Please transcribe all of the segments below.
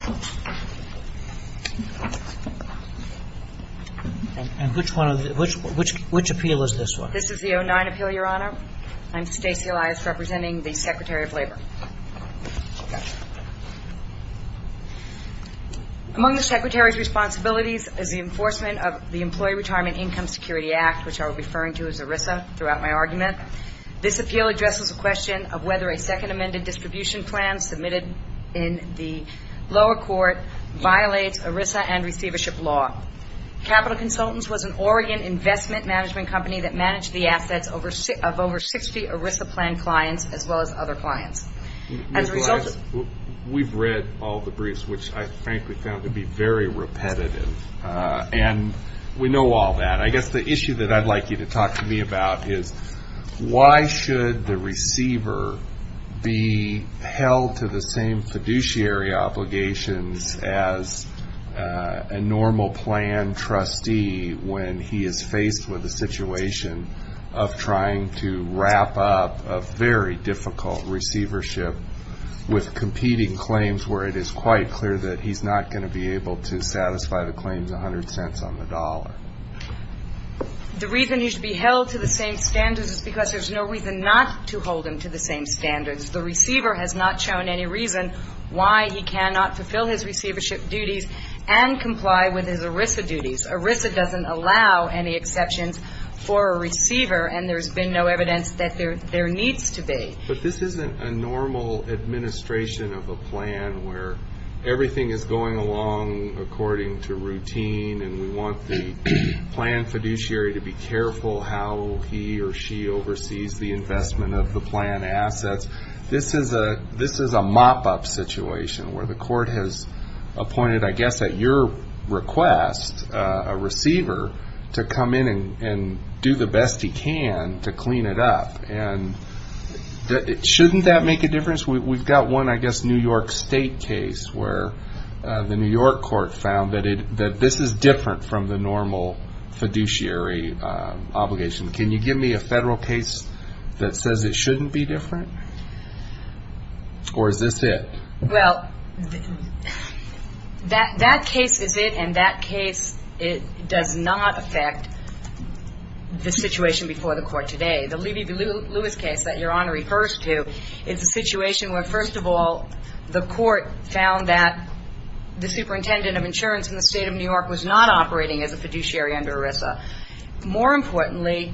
Appeal of the Employee Retirement Income Security Act Among the Secretary's responsibilities is the enforcement of the Employee Retirement Income Security Act, which I will be referring to as ERISA throughout my argument. This appeal addresses the question of whether a second amended distribution plan submitted in the lower court violates ERISA and receivership law. Capital Consultants was an Oregon investment management company that managed the assets of over 60 ERISA plan clients as well as other clients. We've read all the briefs, which I frankly found to be very repetitive, and we know all that. I guess the issue that I'd like you to talk to me about is why should the receiver be held to the same fiduciary obligations as a normal plan trustee when he is faced with a situation of trying to wrap up a very difficult receivership with competing claims where it is quite clear that he's not going to be able to satisfy the claims 100 cents on the dollar? The reason he should be held to the same standards is because there's no reason not to hold him to the same standards. The receiver has not shown any reason why he cannot fulfill his receivership duties and comply with his ERISA duties. ERISA doesn't allow any exceptions for a receiver, and there's been no evidence that there needs to be. But this isn't a normal administration of a plan where everything is going along according to routine and we want the plan fiduciary to be careful how he or she oversees the investment of the plan assets. This is a mop-up situation where the court has appointed, I guess at your request, a receiver to come in and do the best he can to clean it up. Shouldn't that make a difference? We've got one, I guess, New York State case where the New York court found that this is different from the normal fiduciary obligation. Can you give me a federal case that says it shouldn't be different? Or is this it? Well, that case is it and that case does not affect the situation before the court today. The Levy v. Lewis case that Your Honor refers to is a situation where, first of all, the court found that the superintendent of insurance in the state of New York was not operating as a fiduciary under ERISA. More importantly,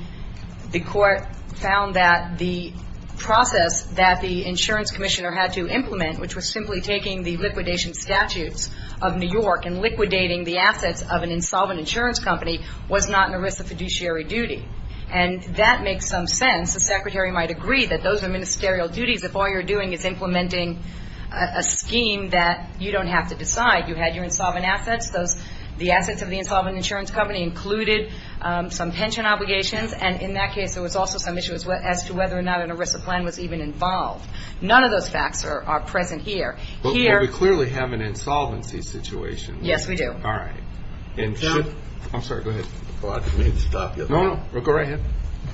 the court found that the process that the insurance commissioner had to implement, which was simply taking the liquidation statutes of New York and liquidating the assets of an insolvent insurance company, was not an agree that those are ministerial duties if all you're doing is implementing a scheme that you don't have to decide. You had your insolvent assets. The assets of the insolvent insurance company included some pension obligations. And in that case, there was also some issues as to whether or not an ERISA plan was even involved. None of those facts are present here. But we clearly have an insolvency situation. Yes, we do. All right. I'm sorry. Go ahead. I thought you wanted me to stop you. No, no. Go right ahead.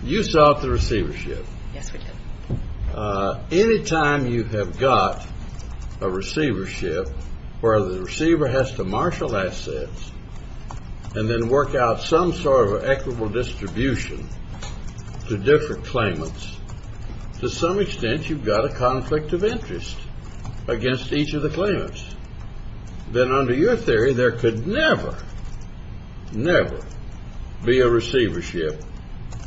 You sought the receivership. Yes, we did. Any time you have got a receivership where the receiver has to marshal assets and then work out some sort of equitable distribution to different claimants, to some extent you've got a conflict of interest against each of the claimants. Then under your theory, there could never, never be a receivership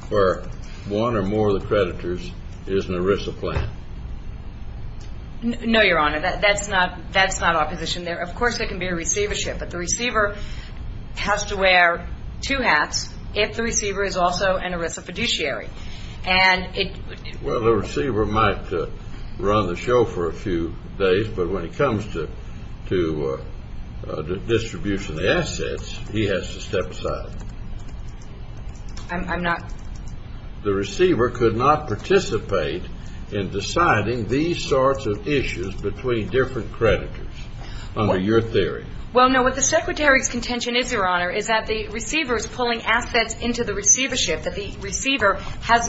where one or more of the creditors is an ERISA plan? No, Your Honor. That's not our position there. Of course, there can be a receivership. But the receiver has to wear two hats if the receiver is also an ERISA fiduciary. Well, the receiver might run the show for a few days, but when it comes to distribution of assets, he has to step aside. The receiver could not participate in deciding these sorts of issues between different creditors under your theory. Well, no. What the Secretary's contention is, Your Honor, is that the receiver is pulling has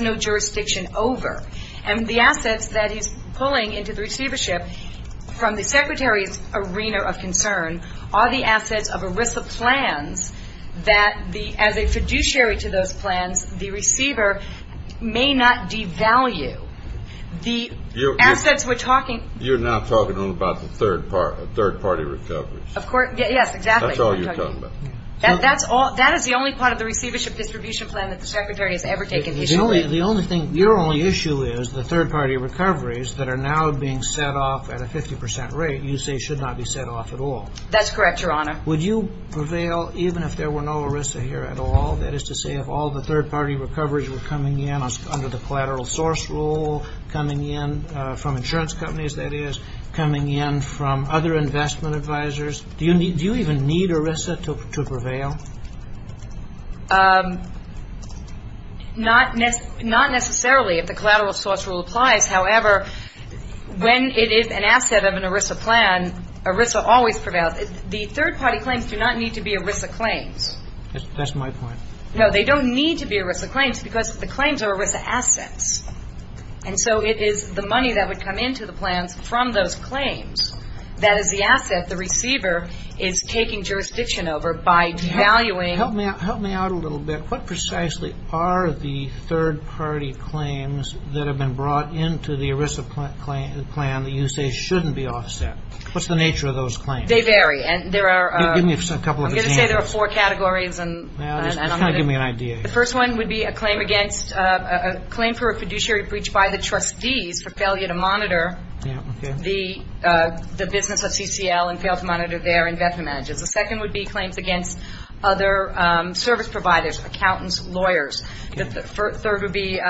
no jurisdiction over. And the assets that he's pulling into the receivership from the Secretary's arena of concern are the assets of ERISA plans that the, as a fiduciary to those plans, the receiver may not devalue. The assets we're talking You're now talking only about the third party, third party recoveries. Of course, yes, exactly. That's all you're talking about. That's all, that is the only part of the receivership distribution plan that the Secretary has ever taken. The only thing, your only issue is the third party recoveries that are now being set off at a 50 percent rate, you say should not be set off at all. That's correct, Your Honor. Would you prevail even if there were no ERISA here at all? That is to say, if all the third party recoveries were coming in under the collateral source rule, coming in from insurance companies, that is, coming in from other investment advisors, do you even need ERISA to prevail? Not necessarily if the collateral source rule applies. However, when it is an asset of an ERISA plan, ERISA always prevails. The third party claims do not need to be ERISA claims. That's my point. No, they don't need to be ERISA claims because the claims are ERISA assets. And so it is the money that would come into the plans from those claims that is the asset the receiver is taking jurisdiction over by devaluing. Help me out a little bit. What precisely are the third party claims that have been brought into the ERISA plan that you say shouldn't be offset? What's the nature of those claims? They vary. Give me a couple of examples. I'm going to say there are four categories. Just kind of give me an idea. The first one would be a claim against, a claim for a fiduciary breach by the trustees for failure to monitor the business of CCL and fail to monitor their investment managers. The second would be claims against other service providers, accountants, lawyers. The third would be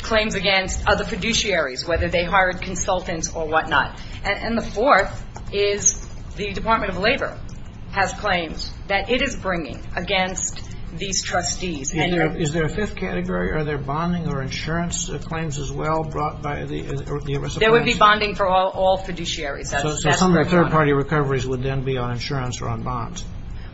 claims against other fiduciaries, whether they hired consultants or whatnot. And the fourth is the Department of Labor has claims that it is bringing against these trustees. Is there a fifth category? Are there bonding or insurance claims as well brought by the ERISA plans? There would be bonding for all fiduciaries. So some of the third party recoveries would then be on insurance or on bonds?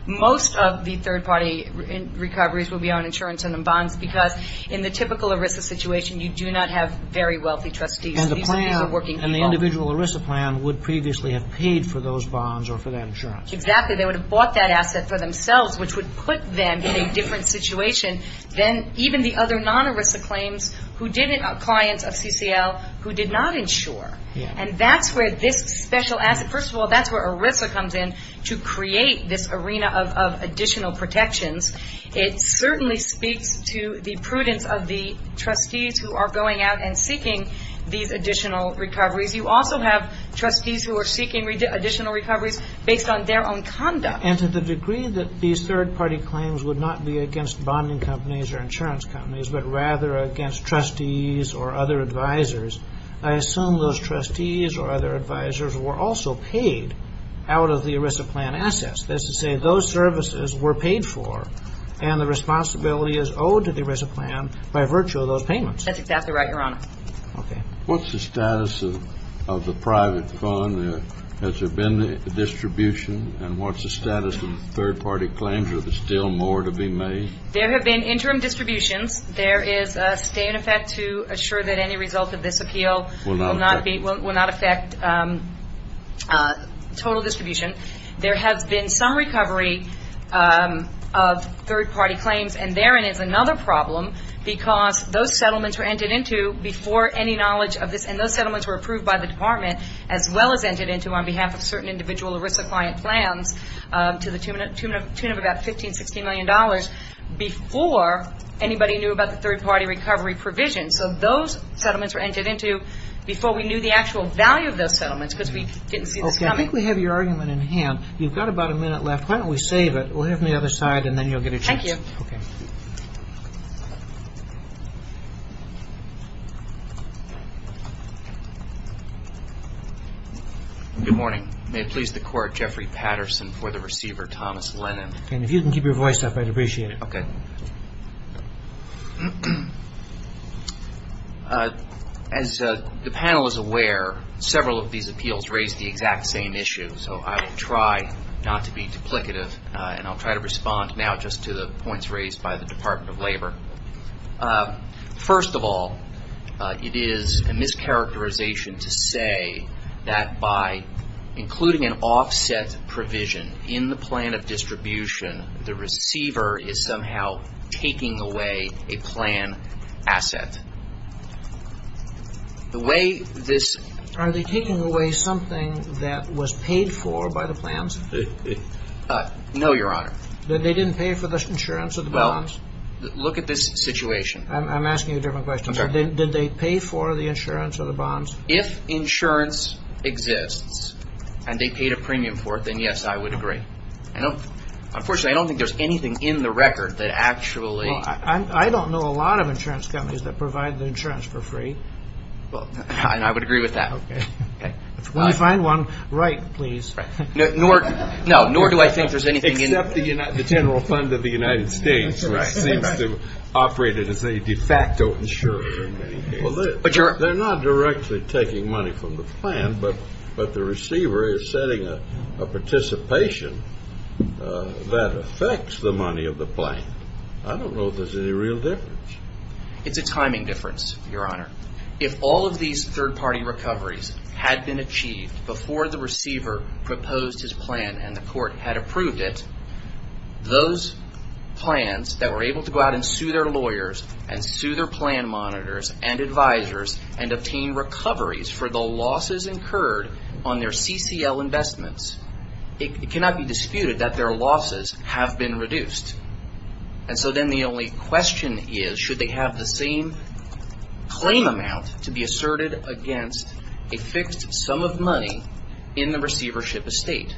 Most of the third party recoveries would be on insurance and on bonds because in the typical ERISA situation you do not have very wealthy trustees. These would be the working people. And the individual ERISA plan would previously have paid for those bonds or for that insurance? Exactly. They would have bought that asset for themselves which would put them in a different situation than even the other non-ERISA claims who didn't have clients of CCL who did not insure. Yeah. And that's where this special asset, first of all that's where ERISA comes in to create this arena of additional protections. It certainly speaks to the prudence of the trustees who are going out and seeking these additional recoveries. You also have trustees who are seeking additional recoveries based on their own conduct. And to the degree that these third party claims would not be against bonding companies or insurance companies but rather against trustees or other advisors, I assume those trustees or other advisors were also paid out of the ERISA plan assets. That is to say those services were paid for and the responsibility is owed to the ERISA plan by virtue of those payments. That's exactly right, Your Honor. Okay. What's the status of the private fund? Has there been a distribution? And what's the status of third party claims? Are there still more to be made? There have been interim distributions. There is a stay in effect to assure that any result of this appeal will not affect total distribution. There has been some recovery of third party claims and therein is another problem because those settlements were entered into before any knowledge of this and those settlements were approved by the department as well as entered into on behalf of certain individual ERISA client plans to the tune of about $15 or $16 million before anybody knew about the third party recovery provisions. So those settlements were entered into before we knew the actual value of those settlements because we didn't see this coming. Okay. I think we have your argument in hand. You've got about a minute left. Why don't we save it? We'll have it on the other side and then you'll get a chance. Thank you. Okay. Good morning. May it please the Court, Jeffrey Patterson for the receiver, Thomas Lennon. And if you can keep your voice up, I'd appreciate it. Okay. As the panel is aware, several of these appeals raise the exact same issue so I will try not to be duplicative and I'll try to respond now just to the points raised by the Department of Labor. First of all, it is a mischaracterization to say that by including an offset provision in the plan of distribution, the receiver is somehow taking away a plan asset. The way this Are they taking away something that was paid for by the plans? No, Your Honor. They didn't pay for the insurance of the bonds? Well, look at this situation. I'm asking a different question. Did they pay for the insurance of the bonds? If insurance exists and they paid a premium for it, then yes, I would agree. Unfortunately, I don't think there's anything in the record that actually Well, I don't know a lot of insurance companies that provide the insurance for free. Well, I would agree with that. Okay. When you find one, write, please. No, nor do I think there's anything in Except the General Fund of the United States, which seems to operate as a de facto insurer. They're not directly taking money from the plan, but the receiver is setting a participation that affects the money of the plan. I don't know if there's any real difference. It's a timing difference, Your Honor. If all of these third-party recoveries had been achieved before the receiver proposed his plan and the court had approved it, those plans that were able to go out and sue their lawyers and sue their plan monitors and advisors and obtain recoveries for the losses incurred on their CCL investments, it cannot be disputed that their losses have been reduced. And so then the only question is, should they have the same claim amount to be asserted against a fixed sum of money in the receivership estate?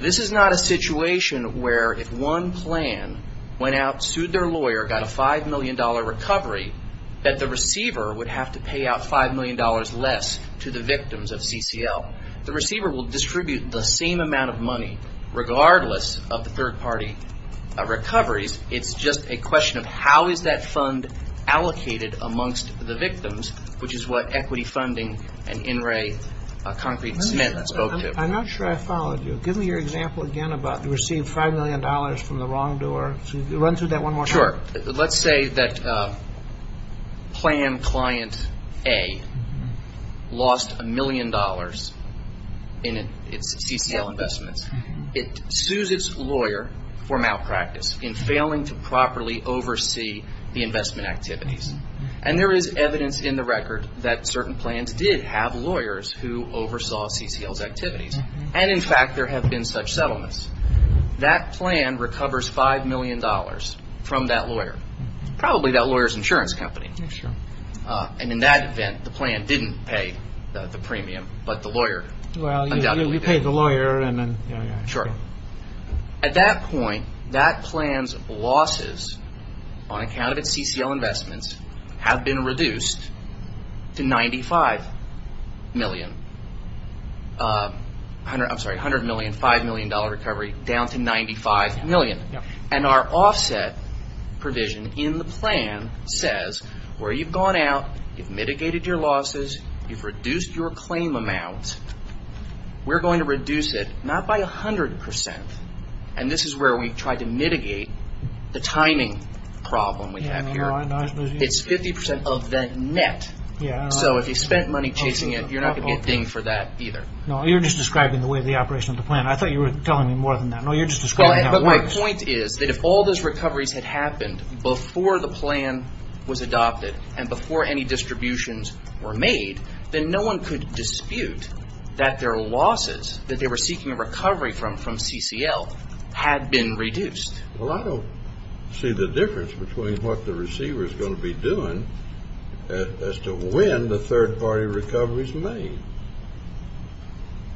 This is not a situation where if one plan went out, sued their lawyer, got a $5 million recovery, that the receiver would have to pay out $5 million less to the victims of CCL. The receiver will distribute the same amount of money regardless of the third-party recoveries. It's just a question of how is that fund allocated amongst the victims, which is what equity funding and in-ray concrete Smith spoke to. I'm not sure I followed you. Give me your example again about you received $5 million from the wrongdoer. Run through that one more time. Sure. Let's say that plan client A lost $1 million in its CCL investments. It sues its lawyer for malpractice in failing to properly oversee the investment activities. And there is evidence in the record that certain plans did have lawyers who oversaw CCL's activities. And in fact, there have been such settlements. That plan recovers $5 million from that lawyer, probably that lawyer's insurance company. And in that event, the plan didn't pay the premium, but the lawyer undoubtedly did. Well, you pay the lawyer and then... Sure. At that point, that plan's losses on account of its CCL investments have been reduced to $95 million. I'm sorry, $100 million, $5 million recovery down to $95 million. And our offset provision in the plan says where you've gone out, you've mitigated your losses, you've reduced your claim amounts, we're going to reduce it, not by 100%, and this is where we've tried to mitigate the timing problem we have here. It's 50% of that net. So if you spent money chasing it, you're not going to get dinged for that either. No, you're just describing the way the operation of the plan. I thought you were telling me more than that. No, you're just describing how it works. But my point is that if all those recoveries had happened before the plan was adopted, and before any distributions were made, then no one could dispute that their losses, that they were seeking a recovery from CCL, had been reduced. Well, I don't see the difference between what the receiver's going to be doing as to when the third-party recovery's made.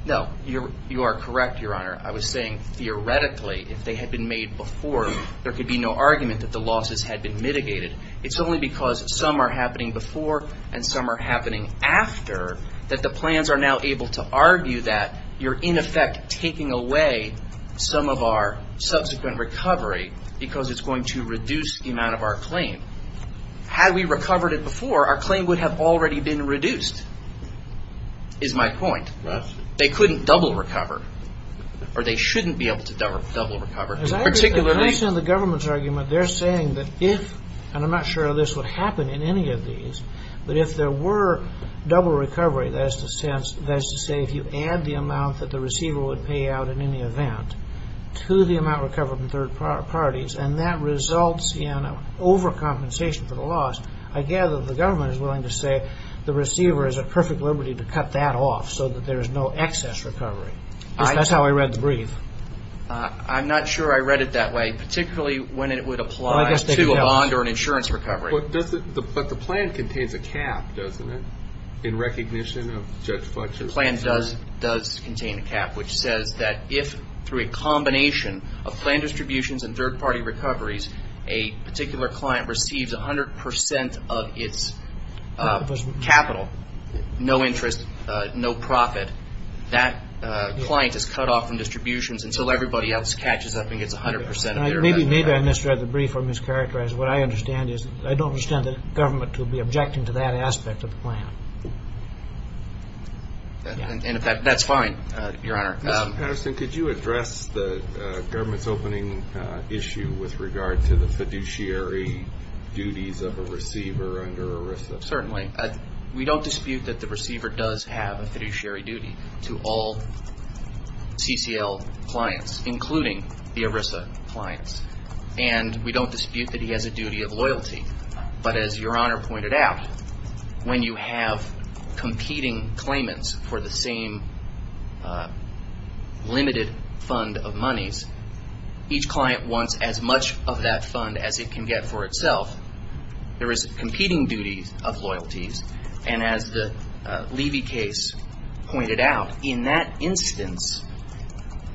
No, you are correct, Your Honor. I was saying, theoretically, if they had been made before, there could be no argument that the losses had been mitigated. It's only because some are happening before, and some are happening after, that the plans are now able to argue that you're, in effect, taking away some of our subsequent recovery, because it's going to reduce the amount of our claim. Had we recovered it before, our claim would have already been reduced, is my point. They couldn't double recover, or they shouldn't be able to double recover. As I understand the government's argument, they're saying that if, and I'm not sure this would happen in any of these, but if there were double recovery, that is to say if you add the amount that the receiver would pay out in any event, to the amount recovered from third parties, and that results in overcompensation for the loss, I gather the government is willing to say the receiver is at perfect liberty to cut that off, so that there's no excess recovery. That's how I read the brief. I'm not sure I read it that way, particularly when it would apply to a bond or an insurance recovery. But the plan contains a cap, doesn't it, in recognition of Judge Fletcher? The plan does contain a cap, which says that if, through a combination of plan distributions and third party recoveries, a particular client receives 100% of its capital, no interest, no profit, that client is cut off from distributions until everybody else catches up and gets 100%. Maybe I misread the brief or mischaracterized. What I understand is I don't understand the government to be objecting to that aspect of the plan. That's fine, Your Honor. Mr. Patterson, could you address the government's opening issue with regard to the fiduciary duties of a receiver under ERISA? Certainly. We don't dispute that the receiver does have a fiduciary duty to all CCL clients, including the ERISA clients. And we don't dispute that he has a duty of loyalty. But as Your Honor pointed out, when you have competing claimants for the same limited fund of monies, each client wants as much of that fund as it can get for itself. There is a competing duty of loyalties. And as the Levy case pointed out, in that instance,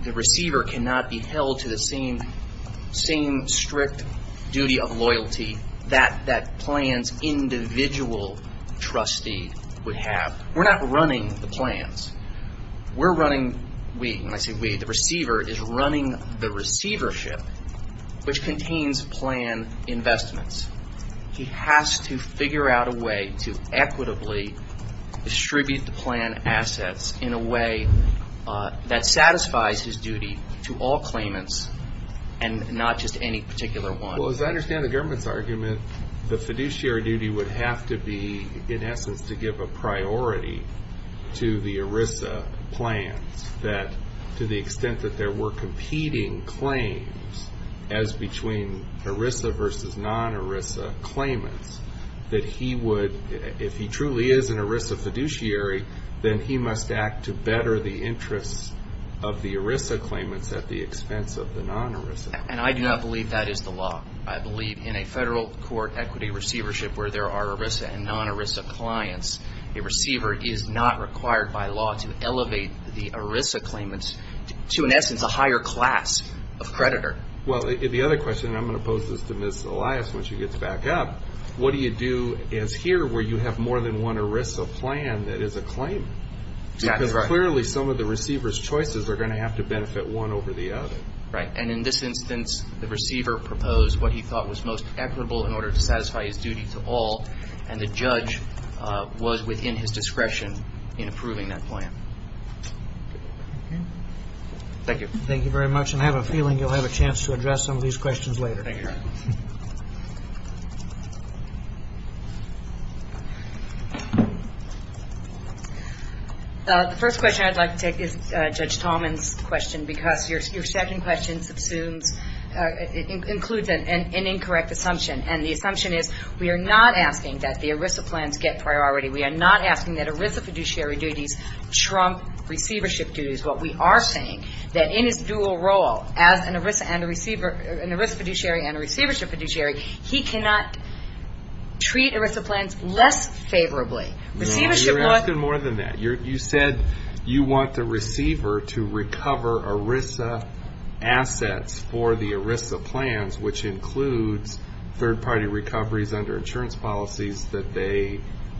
the receiver cannot be held to the same strict duty of loyalty that that plan's individual trustee would have. We're not running the plans. We're running, when I say we, the receiver is running the receivership, which contains plan investments. He has to figure out a way to equitably distribute the plan assets in a way that satisfies his duty to all claimants, and not just any particular one. Well, as I understand the government's argument, the fiduciary duty would have to be, in essence, to give a priority to the ERISA plans. That, to the extent that there were competing claims as between ERISA versus non-ERISA claimants, that he would, if he truly is an ERISA fiduciary, then he must act to better the interests of the ERISA claimants at the expense of the non-ERISA. And I do not believe that is the law. I believe in a federal court equity receivership where there are ERISA and non-ERISA clients, a receiver is not required by law to elevate the ERISA claimants to, in essence, a higher class of creditor. Well, the other question, and I'm going to pose this to Ms. Elias when she gets back up, what do you do as here where you have more than one ERISA plan that is a claim? Because clearly some of the receiver's choices are going to have to benefit one over the other. Right, and in this instance, the receiver proposed what he thought was most equitable in order to satisfy his duty to all, and the judge was within his discretion in approving that plan. Thank you. Thank you very much, and I have a feeling you'll have a chance to address some of these questions later. Thank you. The first question I'd like to take is Judge Tallman's question because your second question assumes, includes an incorrect assumption, and the assumption is we are not asking that the ERISA plans get priority. We are not asking that ERISA fiduciary duties trump receivership duties. What we are saying that in his dual role as an ERISA fiduciary and a receivership fiduciary, he cannot treat ERISA plans less favorably. You're asking more than that. You said you want the receiver to recover ERISA assets for the ERISA plans, which includes third-party recoveries under insurance policies that they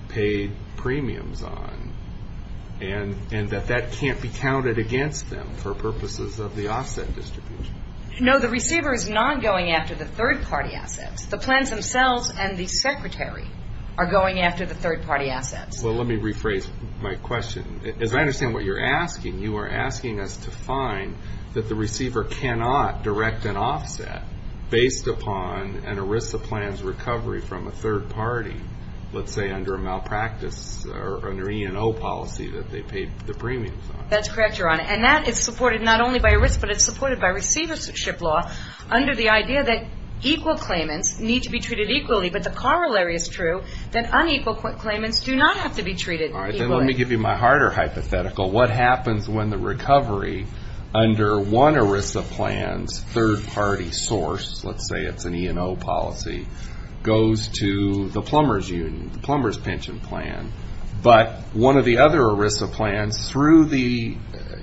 pay premiums on, and that that can't be counted against them for purposes of the offset distribution. No, the receiver is not going after the third-party assets. The plans themselves and the secretary are going after the third-party assets. Well, let me rephrase my question. As I understand what you're asking, you are asking us to find that the receiver cannot direct an offset based upon an ERISA plan's recovery from a third party, let's say under a malpractice or an E&O policy that they paid the premiums on. That's correct, Your Honor. And that is supported not only by ERISA, but it's supported by receivership law under the idea that equal claimants need to be treated equally, but the corollary is true, that unequal claimants do not have to be treated equally. All right, then let me give you my harder hypothetical. What happens when the recovery under one ERISA plan's third-party source, let's say it's an E&O policy, goes to the plumber's union, the plumber's pension plan, but one of the other ERISA plans, through the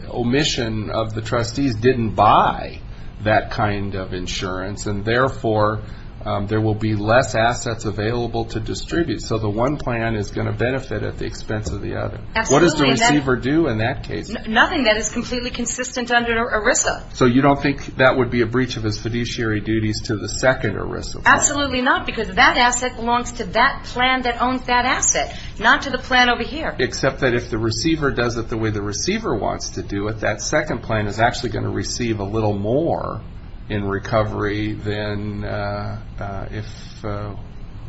omission of the trustees, didn't buy that kind of insurance, and therefore there will be less assets available to distribute. So the one plan is going to benefit at the expense of the other. Absolutely. What does the receiver do in that case? Nothing that is completely consistent under ERISA. So you don't think that would be a breach of his fiduciary duties to the second ERISA plan? Absolutely not, because that asset belongs to that plan that owns that asset, not to the plan over here. Except that if the receiver does it the way the receiver wants to do it, that second plan is actually going to receive a little more in recovery than if...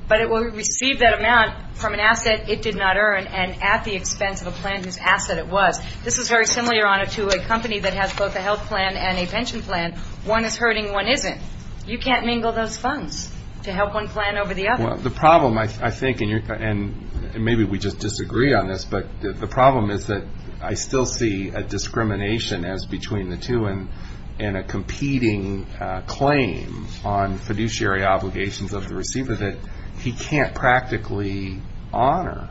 But it will receive that amount from an asset it did not earn and at the expense of a plan whose asset it was. This is very similar, Your Honor, to a company that has both a health plan and a pension plan. One is hurting, one isn't. You can't mingle those funds to help one plan over the other. Well, the problem, I think, and maybe we just disagree on this, but the problem is that I still see a discrimination as between the two and a competing claim on fiduciary obligations of the receiver that he can't practically honor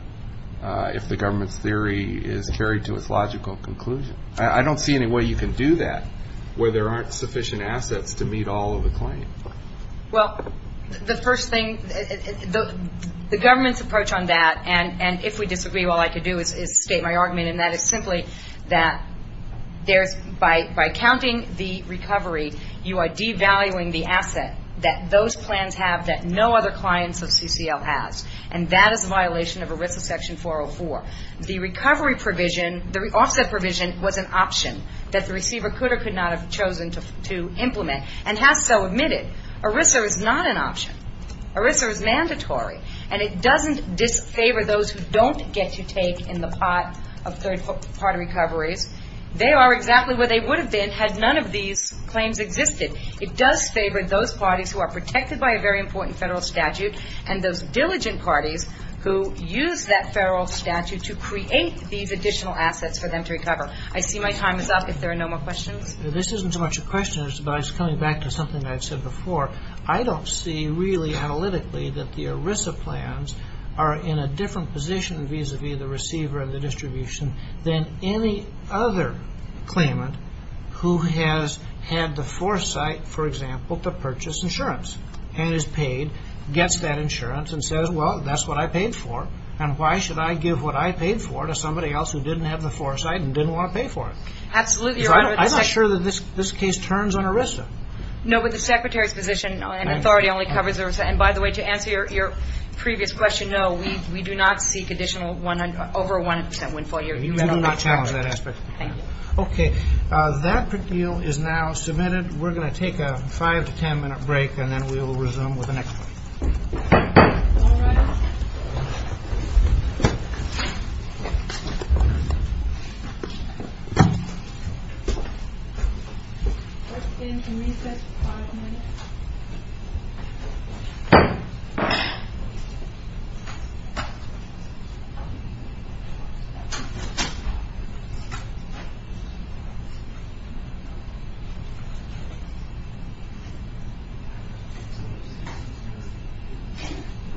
if the government's theory is carried to its logical conclusion. I don't see any way you can do that where there aren't sufficient assets to meet all of the claims. Well, the first thing, the government's approach on that, and if we disagree, all I can do is state my argument, and that is simply that by counting the recovery, you are devaluing the asset that those plans have that no other client of CCL has. And that is a violation of ERISA section 404. The recovery provision, the offset provision was an option that the receiver could or could not have chosen to implement and has so admitted. ERISA is not an option. ERISA is mandatory. And it doesn't disfavor those who don't get to take in the pot of third-party recoveries. They are exactly where they would have been had none of these claims existed. It does favor those parties who are protected by a very important federal statute and those diligent parties who use that federal statute to create these additional assets for them to recover. I see my time is up if there are no more questions. This isn't so much a question, but it's coming back to something I've said before. I don't see really analytically that the ERISA plans are in a different position vis-à-vis the receiver and the distribution than any other claimant who has had the foresight, for example, to purchase insurance and is paid, gets that insurance, and says, well, that's what I paid for, and why should I give what I paid for to somebody else who didn't have the foresight and didn't want to pay for it? I'm not sure that this case turns on ERISA. No, but the Secretary's position and authority only covers ERISA. By the way, to answer your previous question, no, we do not seek over a 1% windfall year. You do not challenge that aspect. Okay, that deal is now submitted. We're going to take a 5 to 10-minute break, and then we will resume with the next one. All rise. We're going to reset for 5 minutes. Thank you.